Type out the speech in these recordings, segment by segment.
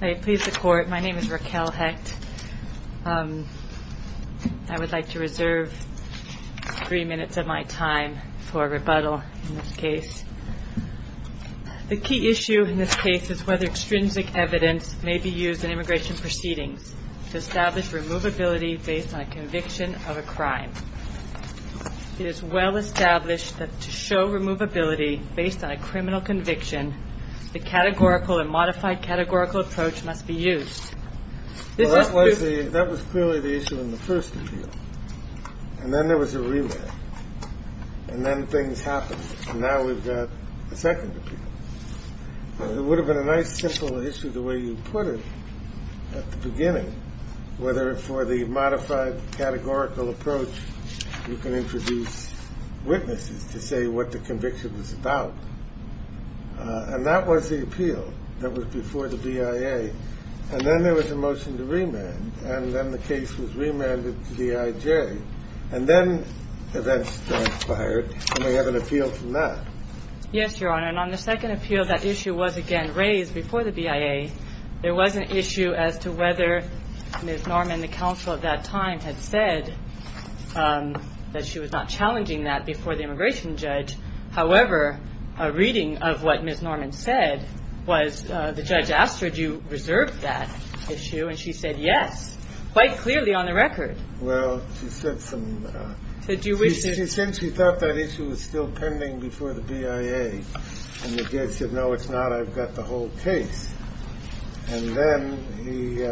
May it please the court, my name is Raquel Hecht. I would like to reserve three minutes of my time for rebuttal in this case. The key issue in this case is whether extrinsic evidence may be used in immigration proceedings to establish removability based on a conviction of a crime. It is well established that to show removability based on a criminal conviction, the categorical and modified categorical approach must be used. That was clearly the issue in the first appeal. And then there was a relay. And then things happened. And now we've got a second appeal. It would have been a nice simple issue the way you put it at the beginning, whether for the modified categorical approach you can introduce witnesses to say what the conviction was about. And that was the appeal that was before the BIA. And then there was a motion to remand. And then the case was remanded to the IJ. And then events transpired. And we have an appeal from that. Yes, Your Honor. And on the second appeal, that issue was again raised before the BIA. There was an issue as to whether Ms. Norman, the counsel at that time, had said that she was not challenging that before the immigration judge. However, a reading of what Ms. Norman said was the judge asked her, do you reserve that issue? And she said yes, quite clearly on the record. Well, she said some. She said she thought that issue was still pending before the BIA. And the judge said, no, it's not. I've got the whole case. And then he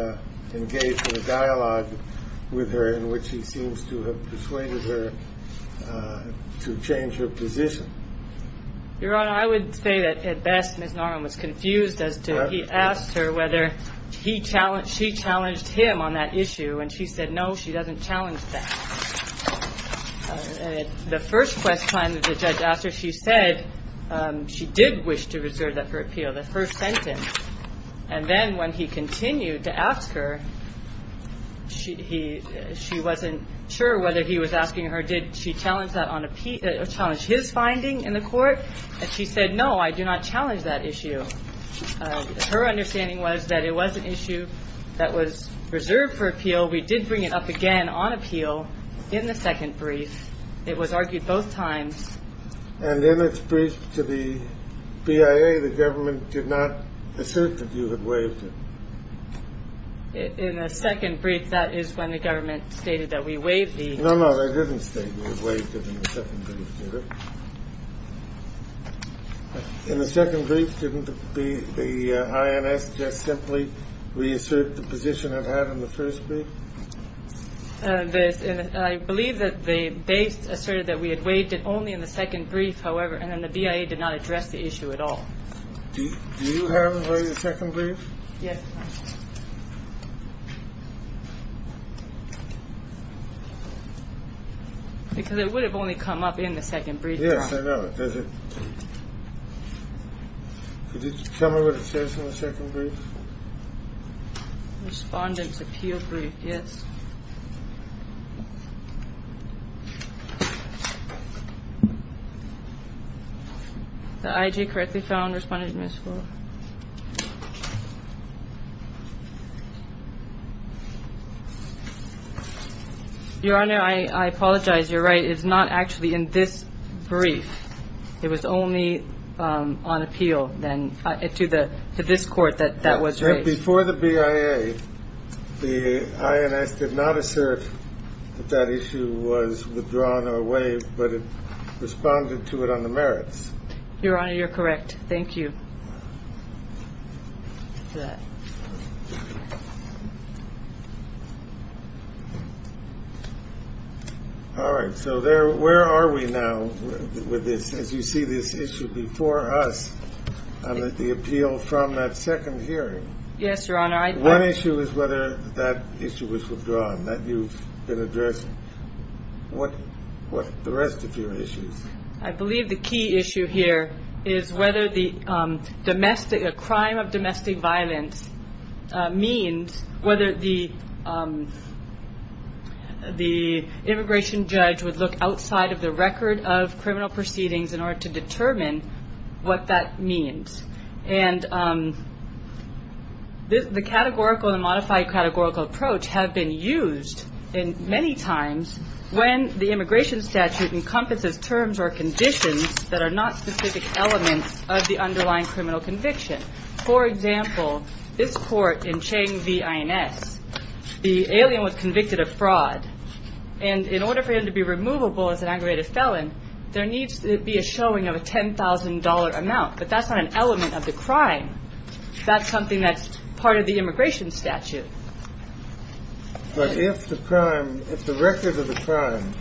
engaged in a dialogue with her in which he seems to have persuaded her to change her position. Your Honor, I would say that at best, Ms. Norman was confused as to he asked her whether he challenged, she challenged him on that issue. And she said, no, she doesn't challenge that. The first quest time that the judge asked her, she said she did wish to reserve that for appeal, the first sentence. And then when he continued to ask her, she wasn't sure whether he was asking her, did she challenge that on appeal, challenge his finding in the court? And she said, no, I do not challenge that issue. Her understanding was that it was an issue that was reserved for appeal. We did bring it up again on appeal in the second brief. It was argued both times. And then it's briefed to the BIA. The government did not assert that you had waived it in a second brief. That is when the government stated that we waived the. No, no, they didn't state we waived it in the second brief. In the second brief, didn't the INS just simply reassert the position of having the first brief? I believe that the base asserted that we had waived it only in the second brief, however, and then the BIA did not address the issue at all. Do you have a second brief? Yes. Because it would have only come up in the second brief. Yes, I know. Could you tell me what it says in the second brief? Respondents appeal brief. Yes. I correctly found responded. Your Honor, I apologize. You're right. It's not actually in this brief. It was only on appeal then to the to this court that that was right before the BIA. The INS did not assert that issue was withdrawn or waived, but it responded to it on the merits. Your Honor, you're correct. Thank you. All right. So there where are we now with this? As you see this issue before us, the appeal from that second hearing. Yes, Your Honor. One issue is whether that issue was withdrawn that you've been addressing. What what the rest of your issues? I believe the key issue here is whether the domestic a crime of domestic violence means whether the the immigration judge would look outside of the record of criminal proceedings in order to determine what that means. And the categorical and modified categorical approach have been used in many times when the immigration statute encompasses terms or conditions that are not specific elements of the underlying criminal conviction. For example, this court in Chang v. INS, the alien was convicted of fraud. And in order for him to be removable as an aggravated felon, there needs to be a showing of a ten thousand dollar amount. But that's not an element of the crime. That's something that's part of the immigration statute. But if the crime, if the record of the crime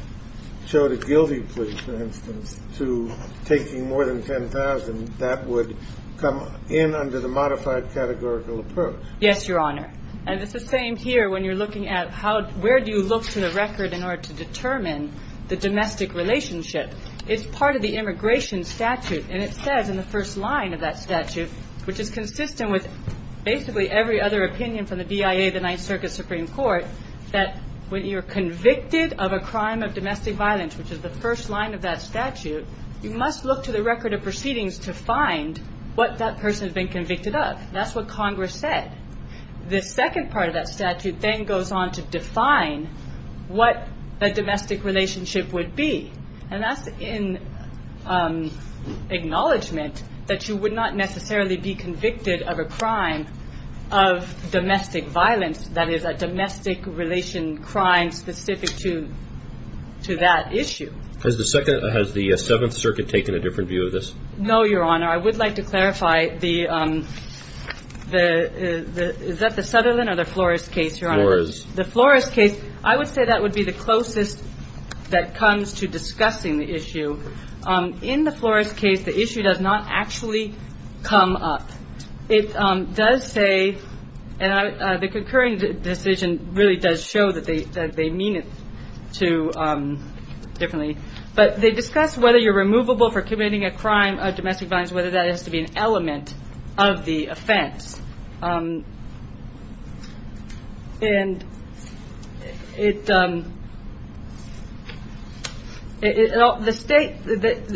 showed a guilty plea, for instance, to taking more than ten thousand, that would come in under the modified categorical approach. Yes, Your Honor. And it's the same here when you're looking at how where do you look to the record in order to determine the domestic relationship? It's part of the immigration statute. And it says in the first line of that statute, which is consistent with basically every other opinion from the BIA, the Ninth Circuit Supreme Court, that when you're convicted of a crime of domestic violence, which is the first line of that statute, you must look to the record of proceedings to find what that person has been convicted of. That's what Congress said. The second part of that statute then goes on to define what a domestic relationship would be. And that's in acknowledgement that you would not necessarily be convicted of a crime of domestic violence, that is, a domestic relation crime specific to that issue. Has the Seventh Circuit taken a different view of this? No, Your Honor. I would like to clarify the, is that the Sutherland or the Flores case, Your Honor? Flores. The Flores case, I would say that would be the closest that comes to discussing the issue. In the Flores case, the issue does not actually come up. It does say, and the concurring decision really does show that they mean it differently. But they discuss whether you're removable for committing a crime of domestic violence, whether that has to be an element of the offense. And it, the state,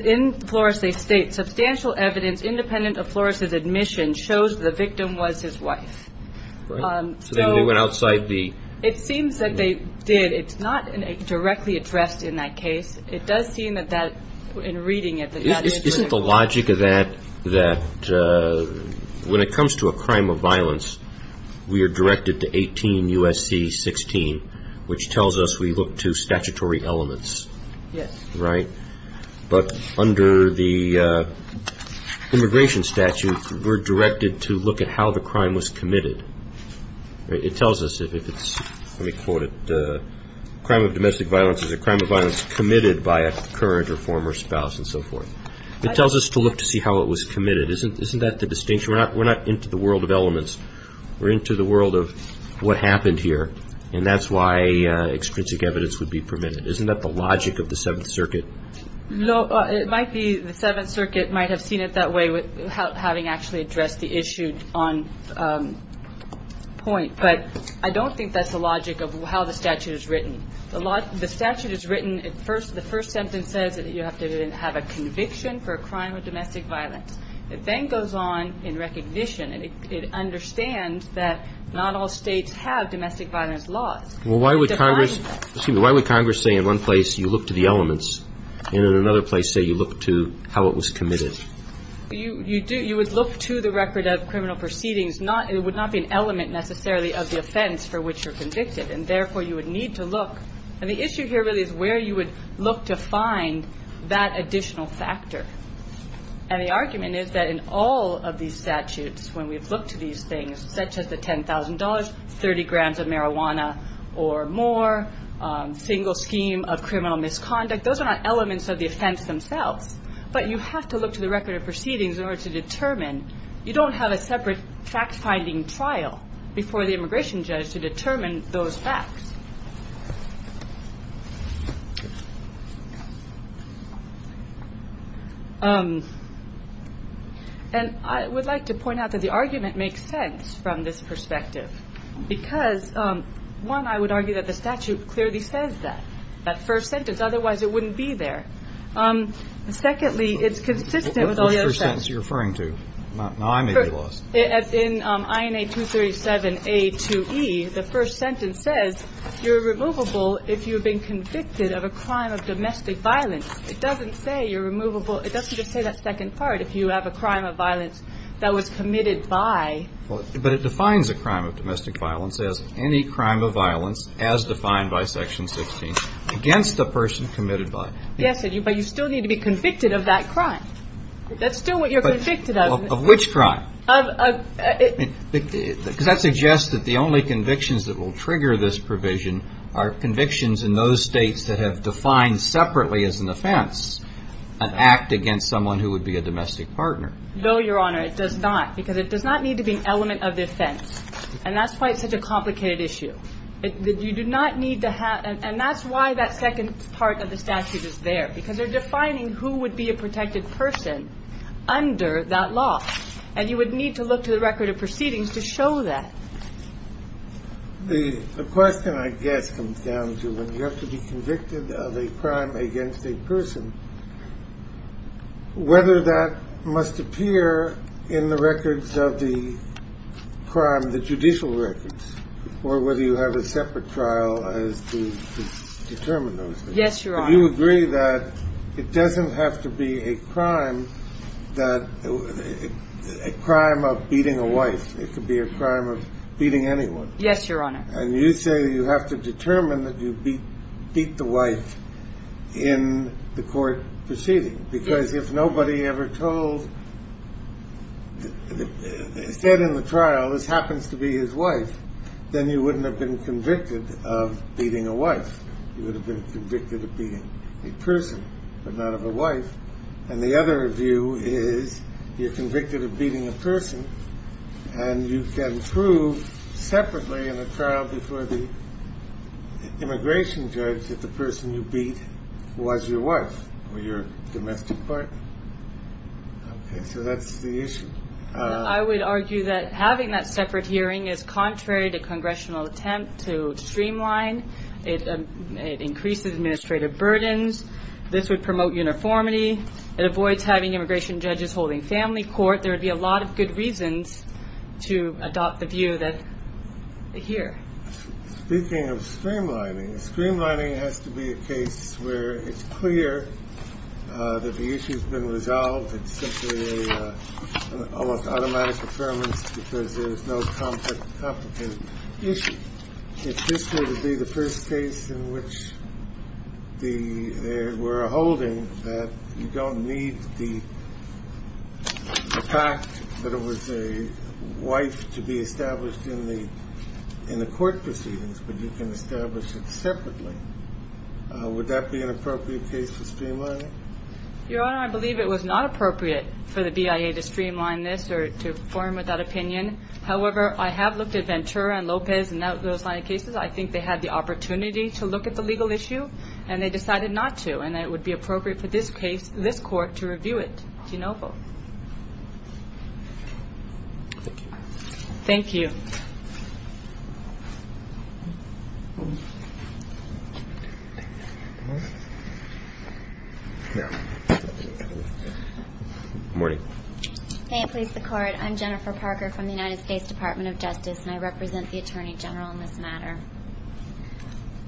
in Flores they state, substantial evidence independent of Flores' admission shows the victim was his wife. So they went outside the. It seems that they did. It's not directly addressed in that case. It does seem that that, in reading it. Isn't the logic of that, that when it comes to a crime of violence, we are directed to 18 U.S.C. 16, which tells us we look to statutory elements. Yes. Right? But under the immigration statute, we're directed to look at how the crime was committed. It tells us if it's, let me quote it. Crime of domestic violence is a crime of violence committed by a current or former spouse and so forth. It tells us to look to see how it was committed. Isn't that the distinction? We're not into the world of elements. We're into the world of what happened here. And that's why extrinsic evidence would be permitted. Isn't that the logic of the Seventh Circuit? It might be. The Seventh Circuit might have seen it that way, having actually addressed the issue on point. But I don't think that's the logic of how the statute is written. The statute is written, the first sentence says that you have to have a conviction for a crime of domestic violence. It then goes on in recognition. It understands that not all States have domestic violence laws. Well, why would Congress say in one place you look to the elements and in another place say you look to how it was committed? You would look to the record of criminal proceedings. It would not be an element necessarily of the offense for which you're convicted. And therefore, you would need to look. And the issue here really is where you would look to find that additional factor. And the argument is that in all of these statutes, when we've looked to these things, such as the $10,000, 30 grams of marijuana or more, single scheme of criminal misconduct, those are not elements of the offense themselves. But you have to look to the record of proceedings in order to determine. You don't have a separate fact-finding trial before the immigration judge to determine those facts. And I would like to point out that the argument makes sense from this perspective, because, one, I would argue that the statute clearly says that, that first sentence. Otherwise, it wouldn't be there. Secondly, it's consistent with all the other sentences. What first sentence are you referring to? I may be lost. In INA 237A2E, the first sentence says you're removable if you've been convicted of a crime of domestic violence. It doesn't say you're removable. It doesn't just say that second part, if you have a crime of violence that was committed by. But it defines a crime of domestic violence as any crime of violence as defined by Section 16 against the person committed by. Yes, but you still need to be convicted of that crime. That's still what you're convicted of. Of which crime? Because that suggests that the only convictions that will trigger this provision are convictions in those states that have defined separately as an offense, an act against someone who would be a domestic partner. No, Your Honor, it does not, because it does not need to be an element of the offense. And that's why it's such a complicated issue. You do not need to have. And that's why that second part of the statute is there, because they're defining who would be a protected person under that law. And you would need to look to the record of proceedings to show that. The question, I guess, comes down to when you have to be convicted of a crime against a person. Whether that must appear in the records of the crime, the judicial records, or whether you have a separate trial as to determine those things. Yes, Your Honor. Do you agree that it doesn't have to be a crime of beating a wife? It could be a crime of beating anyone. Yes, Your Honor. And you say you have to determine that you beat the wife in the court proceeding. Because if nobody ever told, instead in the trial, this happens to be his wife, then you wouldn't have been convicted of beating a wife. You would have been convicted of beating a person, but not of a wife. And the other view is you're convicted of beating a person, and you can prove separately in a trial before the immigration judge that the person you beat was your wife or your domestic partner. Okay, so that's the issue. I would argue that having that separate hearing is contrary to congressional attempt to streamline. It increases administrative burdens. This would promote uniformity. It avoids having immigration judges holding family court. There would be a lot of good reasons to adopt the view that they hear. Speaking of streamlining, streamlining has to be a case where it's clear that the issue has been resolved. It's simply an almost automatic affirmance because there's no complicated issue. If this were to be the first case in which there were a holding that you don't need the fact that it was a wife to be established in the court proceedings, but you can establish it separately, would that be an appropriate case for streamlining? Your Honor, I believe it was not appropriate for the BIA to streamline this or to form that opinion. However, I have looked at Ventura and Lopez and those line of cases. I think they had the opportunity to look at the legal issue, and they decided not to, and it would be appropriate for this court to review it. Do you know of both? Thank you. May it please the Court. I'm Jennifer Parker from the United States Department of Justice, and I represent the Attorney General in this matter.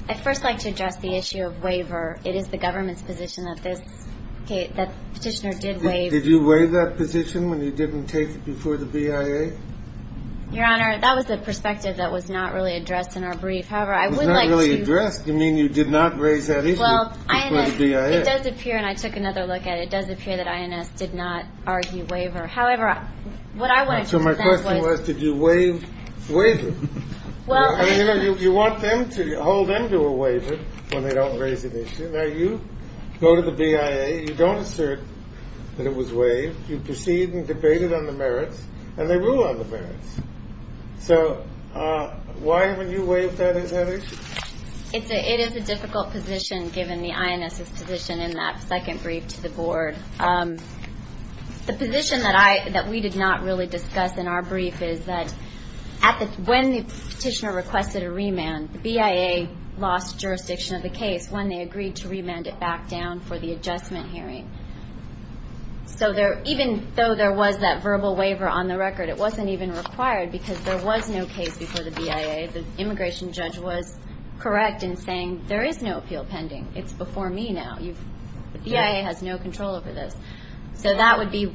I'd first like to address the issue of waiver. It is the government's position that this petitioner did waive. Did you waive that position when you didn't take it before the BIA? Your Honor, that was the perspective that was not really addressed in our brief. However, I would like to – It was not really addressed? You mean you did not raise that issue before the BIA? Well, it does appear – and I took another look at it – it does appear that INS did not argue waiver. However, what I wanted to present was – So my question was, did you waive waiver? Well – I mean, you know, you want them to – hold them to a waiver when they don't raise an issue. Now, you go to the BIA. You don't assert that it was waived. You proceed and debate it on the merits, and they rule on the merits. So why haven't you waived that issue? It is a difficult position, given the INS's position in that second brief to the Board. The position that we did not really discuss in our brief is that when the petitioner requested a remand, the BIA lost jurisdiction of the case when they agreed to remand it back down for the adjustment hearing. So even though there was that verbal waiver on the record, it wasn't even required because there was no case before the BIA. The immigration judge was correct in saying there is no appeal pending. It's before me now. The BIA has no control over this. So that would be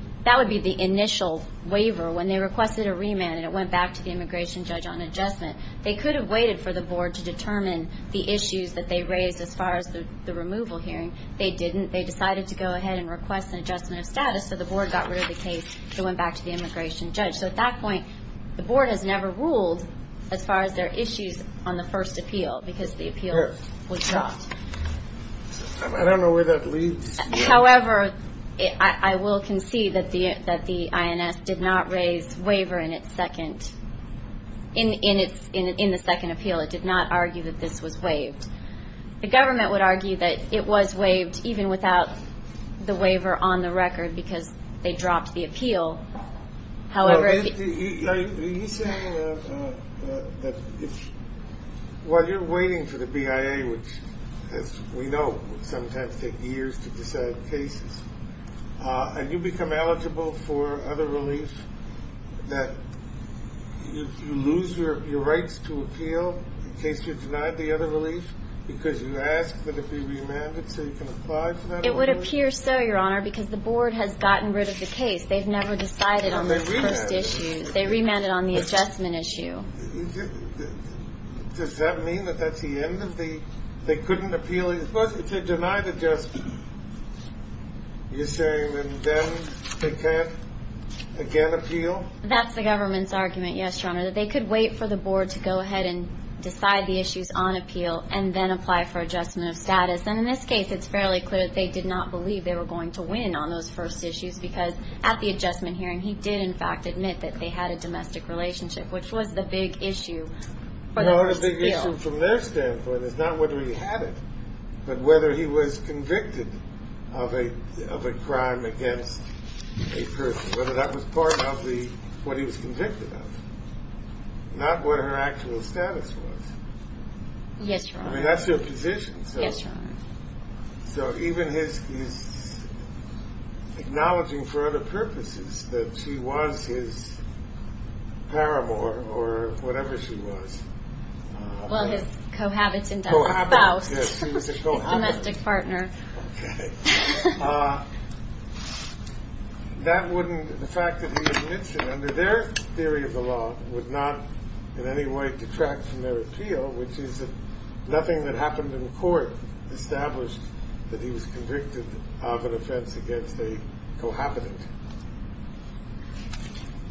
the initial waiver when they requested a remand, and it went back to the immigration judge on adjustment. They could have waited for the Board to determine the issues that they raised as far as the removal hearing. They didn't. They decided to go ahead and request an adjustment of status, so the Board got rid of the case. It went back to the immigration judge. So at that point, the Board has never ruled as far as their issues on the first appeal because the appeal was dropped. I don't know where that leads. However, I will concede that the INS did not raise waiver in its second – in the second appeal. It did not argue that this was waived. The government would argue that it was waived even without the waiver on the record because they dropped the appeal. However – Are you saying that while you're waiting for the BIA, which, as we know, sometimes takes years to decide cases, and you become eligible for other relief, that you lose your rights to appeal in case you're denied the other relief because you ask that it be remanded so you can apply for that other relief? It would appear so, Your Honor, because the Board has gotten rid of the case. They've never decided on the first issue. They remanded. They remanded on the adjustment issue. Does that mean that that's the end of the – they couldn't appeal it? They're supposed to deny the adjustment, you're saying, and then they can't again appeal? That's the government's argument, yes, Your Honor, that they could wait for the Board to go ahead and decide the issues on appeal and then apply for adjustment of status. And in this case, it's fairly clear that they did not believe they were going to win on those first issues because at the adjustment hearing, he did, in fact, admit that they had a domestic relationship, which was the big issue for the first appeal. The big issue from their standpoint is not whether he had it, but whether he was convicted of a crime against a person, whether that was part of what he was convicted of, not what her actual status was. Yes, Your Honor. I mean, that's their position. Yes, Your Honor. So even his acknowledging for other purposes that she was his paramour or whatever she was. Well, his cohabitant spouse. Yes, he was a cohabitant. His domestic partner. Okay. That wouldn't – the fact that he admits it under their theory of the law would not in any way detract from their appeal, which is that nothing that happened in court established that he was convicted of an offense against a cohabitant.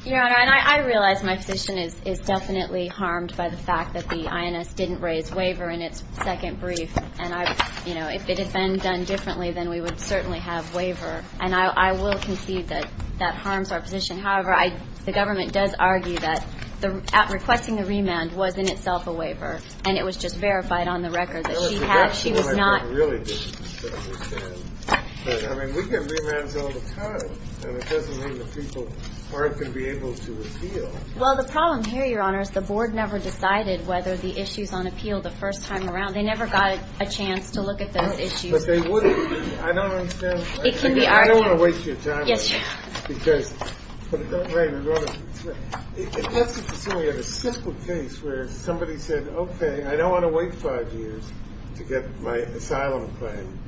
Your Honor, and I realize my position is definitely harmed by the fact that the INS didn't raise waiver in its second brief. And, you know, if it had been done differently, then we would certainly have waiver. And I will concede that that harms our position. However, the government does argue that requesting a remand was in itself a waiver, and it was just verified on the record that she had – she was not – Well, it's a good point, but I really didn't understand. But, I mean, we get remands all the time, and it doesn't mean that people aren't going to be able to appeal. Well, the problem here, Your Honor, is the board never decided whether the issues on appeal the first time around. They never got a chance to look at those issues. But they wouldn't be. I don't understand. It can be argued. I don't want to waste your time. Yes, Your Honor. Because – Right. It's right. Let's assume we have a simple case where somebody said, okay, I don't want to wait five years to get my asylum claim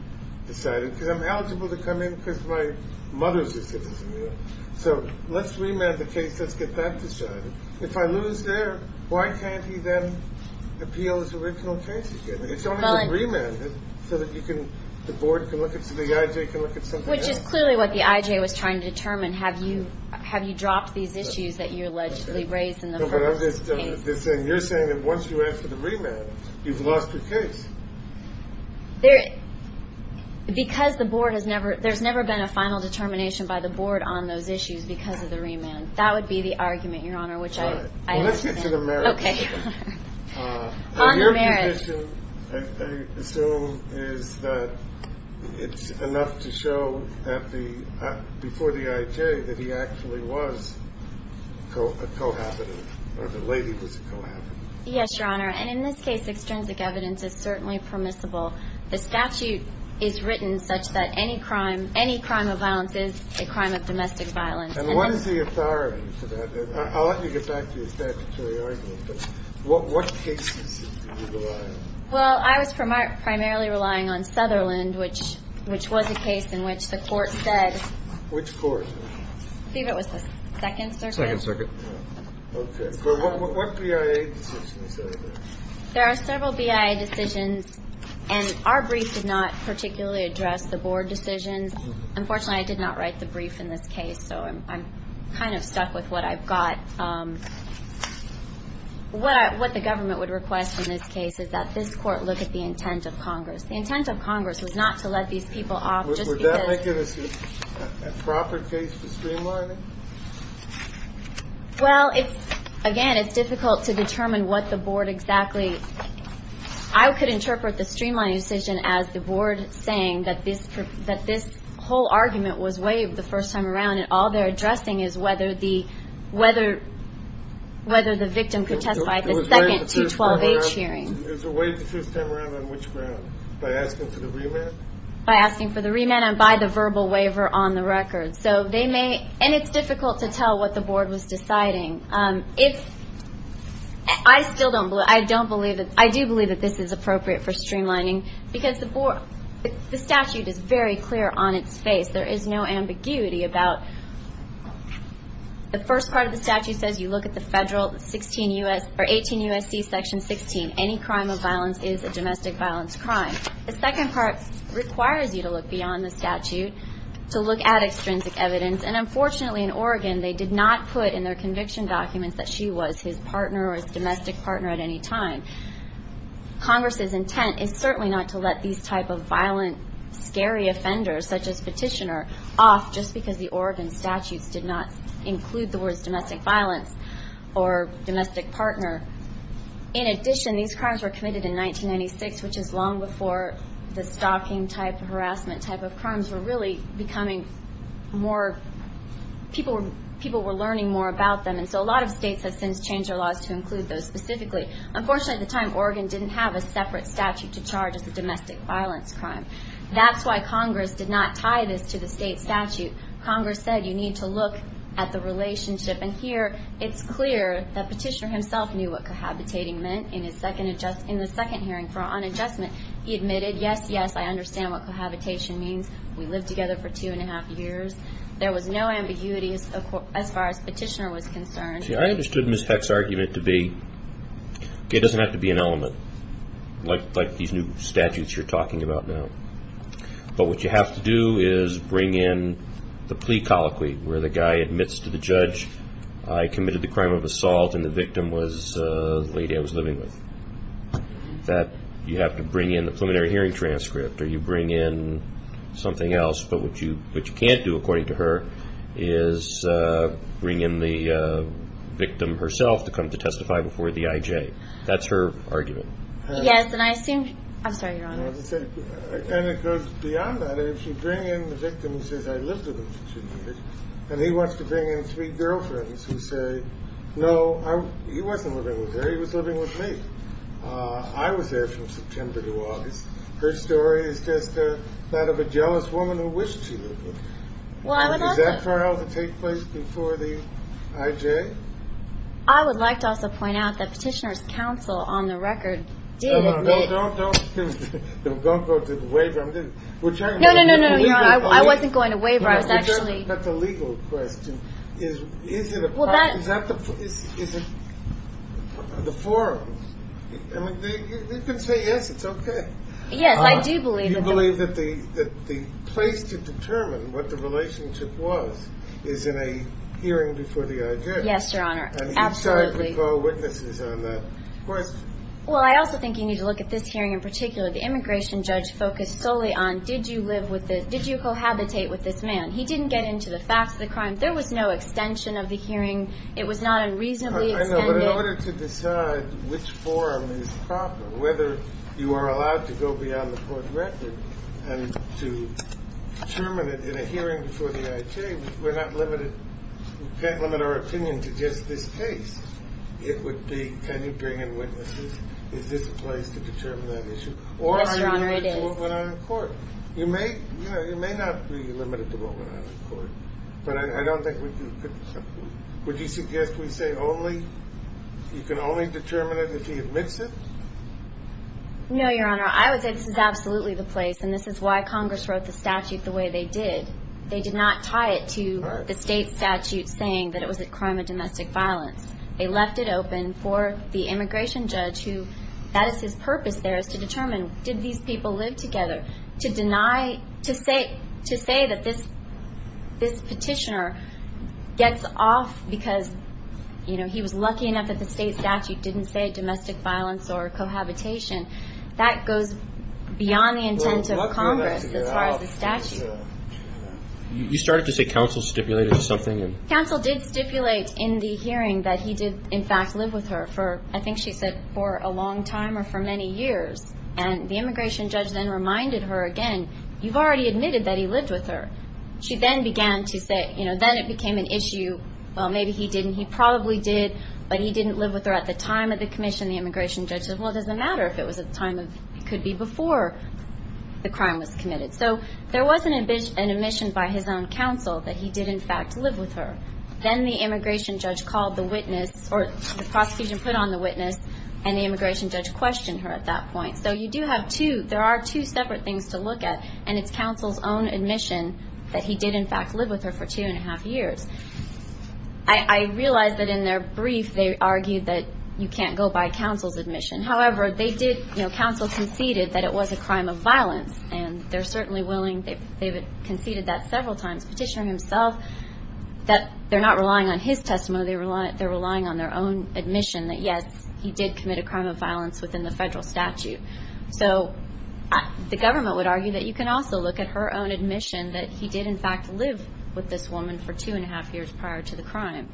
decided because I'm eligible to come in because my mother's a citizen. So let's remand the case. Let's get that decided. If I lose there, why can't he then appeal his original case again? It's only to remand it so that you can – the board can look at – so the IJ can look at something else. Which is clearly what the IJ was trying to determine. Have you dropped these issues that you allegedly raised in the first case? You're saying that once you answer the remand, you've lost your case. Because the board has never – there's never been a final determination by the board on those issues because of the remand. That would be the argument, Your Honor, which I understand. All right. Well, let's get to the merits. Okay. On the merits. The condition, I assume, is that it's enough to show that the – before the IJ that he actually was a cohabitant or the lady was a cohabitant. Yes, Your Honor. And in this case, extrinsic evidence is certainly permissible. The statute is written such that any crime – any crime of violence is a crime of domestic violence. And what is the authority for that? I'll let you get back to your statutory argument. But what cases did you rely on? Well, I was primarily relying on Sutherland, which was a case in which the court said – Which court? I believe it was the Second Circuit. Second Circuit. Okay. But what BIA decisions are there? There are several BIA decisions. And our brief did not particularly address the board decisions. Unfortunately, I did not write the brief in this case, so I'm kind of stuck with what I've got. What the government would request in this case is that this court look at the intent of Congress. The intent of Congress was not to let these people off just because – Would that make it a proper case for streamlining? Well, it's – again, it's difficult to determine what the board exactly – I could interpret the streamlining decision as the board saying that this whole argument was waived the first time around, and all they're addressing is whether the victim could testify at the second 212H hearing. It was waived the first time around on which ground? By asking for the remand? By asking for the remand and by the verbal waiver on the record. So they may – and it's difficult to tell what the board was deciding. It's – I still don't – I don't believe – I do believe that this is appropriate for streamlining because the statute is very clear on its face. There is no ambiguity about – the first part of the statute says you look at the federal 16 U.S. – or 18 U.S.C. section 16. Any crime of violence is a domestic violence crime. The second part requires you to look beyond the statute to look at extrinsic evidence, and unfortunately in Oregon they did not put in their conviction documents that she was his partner or his domestic partner at any time. Congress's intent is certainly not to let these type of violent, scary offenders such as Petitioner off just because the Oregon statutes did not include the words domestic violence or domestic partner. In addition, these crimes were committed in 1996, which is long before the stalking type of harassment type of crimes were really becoming more – people were learning more about them, and so a lot of states have since changed their laws to include those specifically. Unfortunately at the time Oregon didn't have a separate statute to charge as a domestic violence crime. That's why Congress did not tie this to the state statute. Congress said you need to look at the relationship, and here it's clear that Petitioner himself knew what cohabitating meant. In the second hearing for unadjustment, he admitted, yes, yes, I understand what cohabitation means. We lived together for two and a half years. There was no ambiguity as far as Petitioner was concerned. See, I understood Ms. Peck's argument to be it doesn't have to be an element like these new statutes you're talking about now, but what you have to do is bring in the plea colloquy where the guy admits to the judge, I committed the crime of assault and the victim was the lady I was living with. That you have to bring in the preliminary hearing transcript or you bring in something else, but what you can't do according to her is bring in the victim herself to come to testify before the IJ. That's her argument. Yes, and I assume – I'm sorry, Your Honor. And it goes beyond that. If you bring in the victim who says, I lived with him for two years, and he wants to bring in three girlfriends who say, no, he wasn't living with her, he was living with me. I was there from September to August. Her story is just that of a jealous woman who wished she lived with me. Well, I would also – Is that trial to take place before the IJ? I would like to also point out that Petitioner's counsel on the record did admit – No, no, no, don't go to the waiver. No, no, no, Your Honor. I wasn't going to waiver. I was actually – But the legal question is, is it a – is that the – is it the forum? I mean, you can say yes, it's okay. Yes, I do believe that the – You believe that the place to determine what the relationship was is in a hearing before the IJ. Yes, Your Honor, absolutely. And each side would call witnesses on that question. Well, I also think you need to look at this hearing in particular. The immigration judge focused solely on did you live with the – did you cohabitate with this man? He didn't get into the facts of the crime. There was no extension of the hearing. It was not a reasonably extended – I know, but in order to decide which forum is proper, whether you are allowed to go beyond the court record and to determine it in a hearing before the IJ, we're not limited – we can't limit our opinion to just this case. It would be, can you bring in witnesses? Is this a place to determine that issue? Yes, Your Honor, it is. Or are you limited to moving on to court? You may – you know, you may not be limited to moving on to court, but I don't think we could – would you suggest we say only – you can only determine it if he admits it? No, Your Honor, I would say this is absolutely the place, and this is why Congress wrote the statute the way they did. They did not tie it to the state statute saying that it was a crime of domestic violence. They left it open for the immigration judge who – that is his purpose there is to determine, did these people live together? To deny – to say that this petitioner gets off because, you know, he was lucky enough that the state statute didn't say domestic violence or cohabitation, that goes beyond the intent of Congress as far as the statute. You started to say counsel stipulated something? Counsel did stipulate in the hearing that he did, in fact, live with her for, I think she said, for a long time or for many years, and the immigration judge then reminded her again, you've already admitted that he lived with her. She then began to say, you know, then it became an issue, well, maybe he didn't, he probably did, but he didn't live with her at the time of the commission. The immigration judge said, well, it doesn't matter if it was at the time of – it could be before the crime was committed. So there was an admission by his own counsel that he did, in fact, live with her. Then the immigration judge called the witness or the prosecution put on the witness and the immigration judge questioned her at that point. So you do have two – there are two separate things to look at, and it's counsel's own admission that he did, in fact, live with her for two and a half years. I realize that in their brief they argued that you can't go by counsel's admission. However, they did – you know, counsel conceded that it was a crime of violence and they're certainly willing – they've conceded that several times. Petitioner himself, that they're not relying on his testimony, they're relying on their own admission that, yes, he did commit a crime of violence within the federal statute. So the government would argue that you can also look at her own admission that he did, in fact, live with this woman for two and a half years prior to the crime.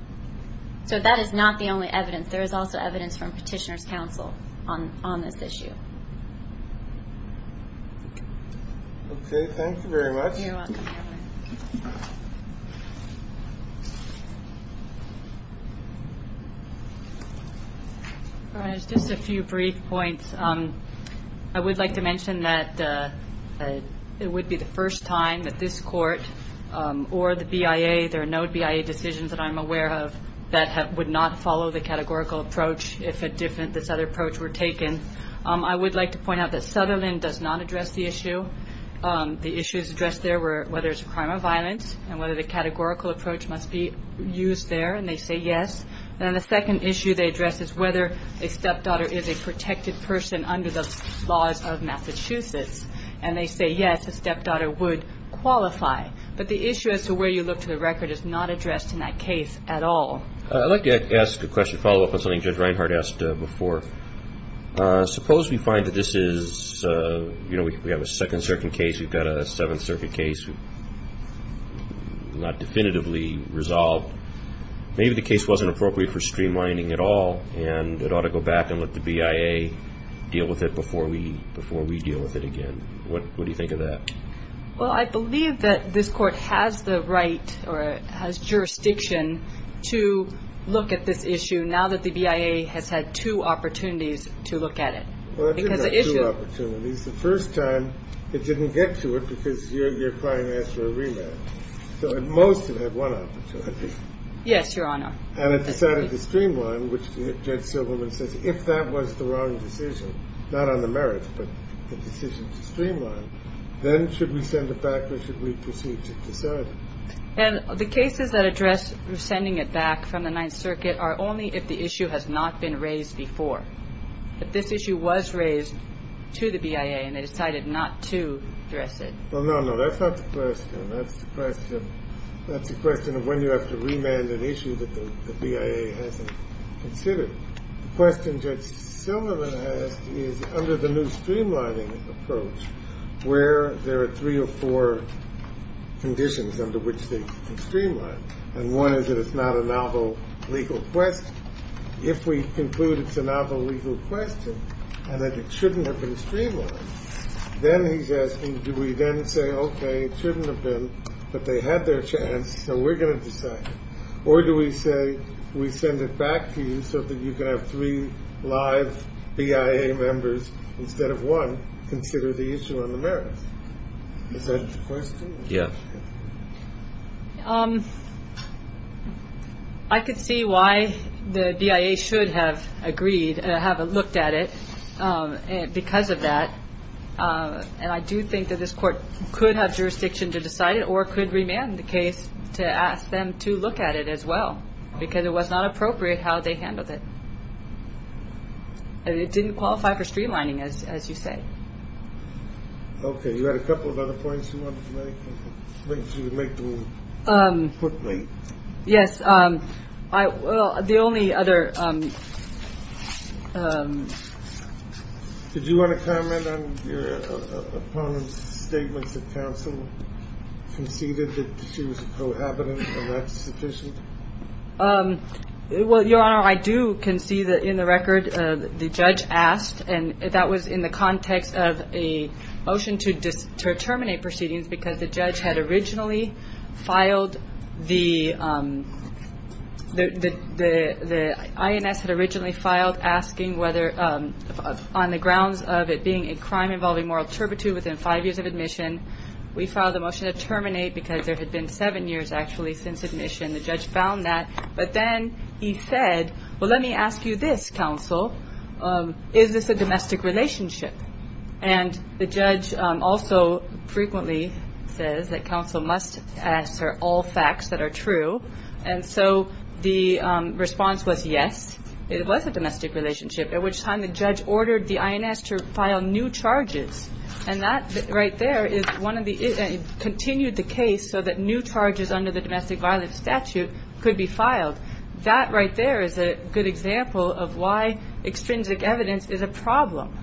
So that is not the only evidence. There is also evidence from Petitioner's counsel on this issue. Okay. Thank you very much. You're welcome. Just a few brief points. I would like to mention that it would be the first time that this court or the BIA – if a different – this other approach were taken. I would like to point out that Sutherland does not address the issue. The issues addressed there were whether it's a crime of violence and whether the categorical approach must be used there, and they say yes. Then the second issue they address is whether a stepdaughter is a protected person under the laws of Massachusetts, and they say yes, a stepdaughter would qualify. But the issue as to where you look to the record is not addressed in that case at all. I'd like to ask a question, follow up on something Judge Reinhart asked before. Suppose we find that this is – we have a Second Circuit case, we've got a Seventh Circuit case not definitively resolved. Maybe the case wasn't appropriate for streamlining at all, and it ought to go back and let the BIA deal with it before we deal with it again. What do you think of that? Well, I believe that this Court has the right or has jurisdiction to look at this issue now that the BIA has had two opportunities to look at it. Well, it didn't have two opportunities. The first time it didn't get to it because your client asked for a rematch. So at most it had one opportunity. Yes, Your Honor. And it decided to streamline, which Judge Silverman says, if that was the wrong decision, not on the merits, but the decision to streamline, then should we send it back or should we proceed to decide it? And the cases that address sending it back from the Ninth Circuit are only if the issue has not been raised before. If this issue was raised to the BIA and they decided not to address it. Well, no, no, that's not the question. That's the question of when you have to remand an issue that the BIA hasn't considered. The question Judge Silverman has is under the new streamlining approach where there are three or four conditions under which they can streamline. And one is that it's not a novel legal question. If we conclude it's a novel legal question and that it shouldn't have been streamlined, then he's asking do we then say, okay, it shouldn't have been, but they had their chance, so we're going to decide. Or do we say we send it back to you so that you can have three live BIA members instead of one consider the issue on the merits? Is that the question? Yeah. I could see why the BIA should have agreed, have looked at it because of that. And I do think that this court could have jurisdiction to decide it or could remand the case to ask them to look at it as well because it was not appropriate how they handled it. It didn't qualify for streamlining, as you say. Okay. You had a couple of other points you wanted to make. Yes. The only other. Did you want to comment on your opponent's statements of counsel conceded that she was a cohabitant and that's sufficient? Well, Your Honor, I do concede that in the record the judge asked, and that was in the context of a motion to terminate proceedings because the INS had originally filed asking whether, on the grounds of it being a crime involving moral turpitude within five years of admission, we filed a motion to terminate because there had been seven years actually since admission. The judge found that. But then he said, well, let me ask you this, counsel, is this a domestic relationship? And the judge also frequently says that counsel must answer all facts that are true. And so the response was yes, it was a domestic relationship, at which time the judge ordered the INS to file new charges. And that right there is one of the, it continued the case so that new charges under the domestic violence statute could be filed. That right there is a good example of why extrinsic evidence is a problem.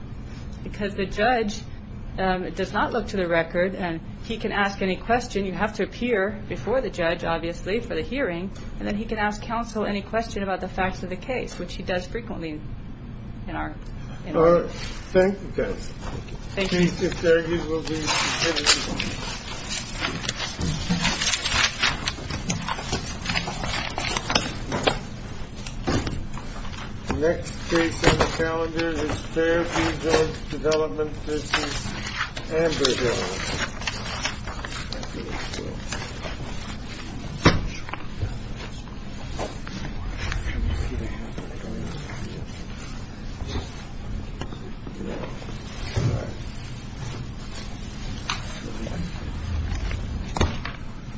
Because the judge does not look to the record and he can ask any question. You have to appear before the judge, obviously, for the hearing. And then he can ask counsel any question about the facts of the case, which he does frequently. All right. Thank you, guys. Thank you. Thank you. Next case on the calendar is Fairview Judge Development v. Amberhill. Thank you.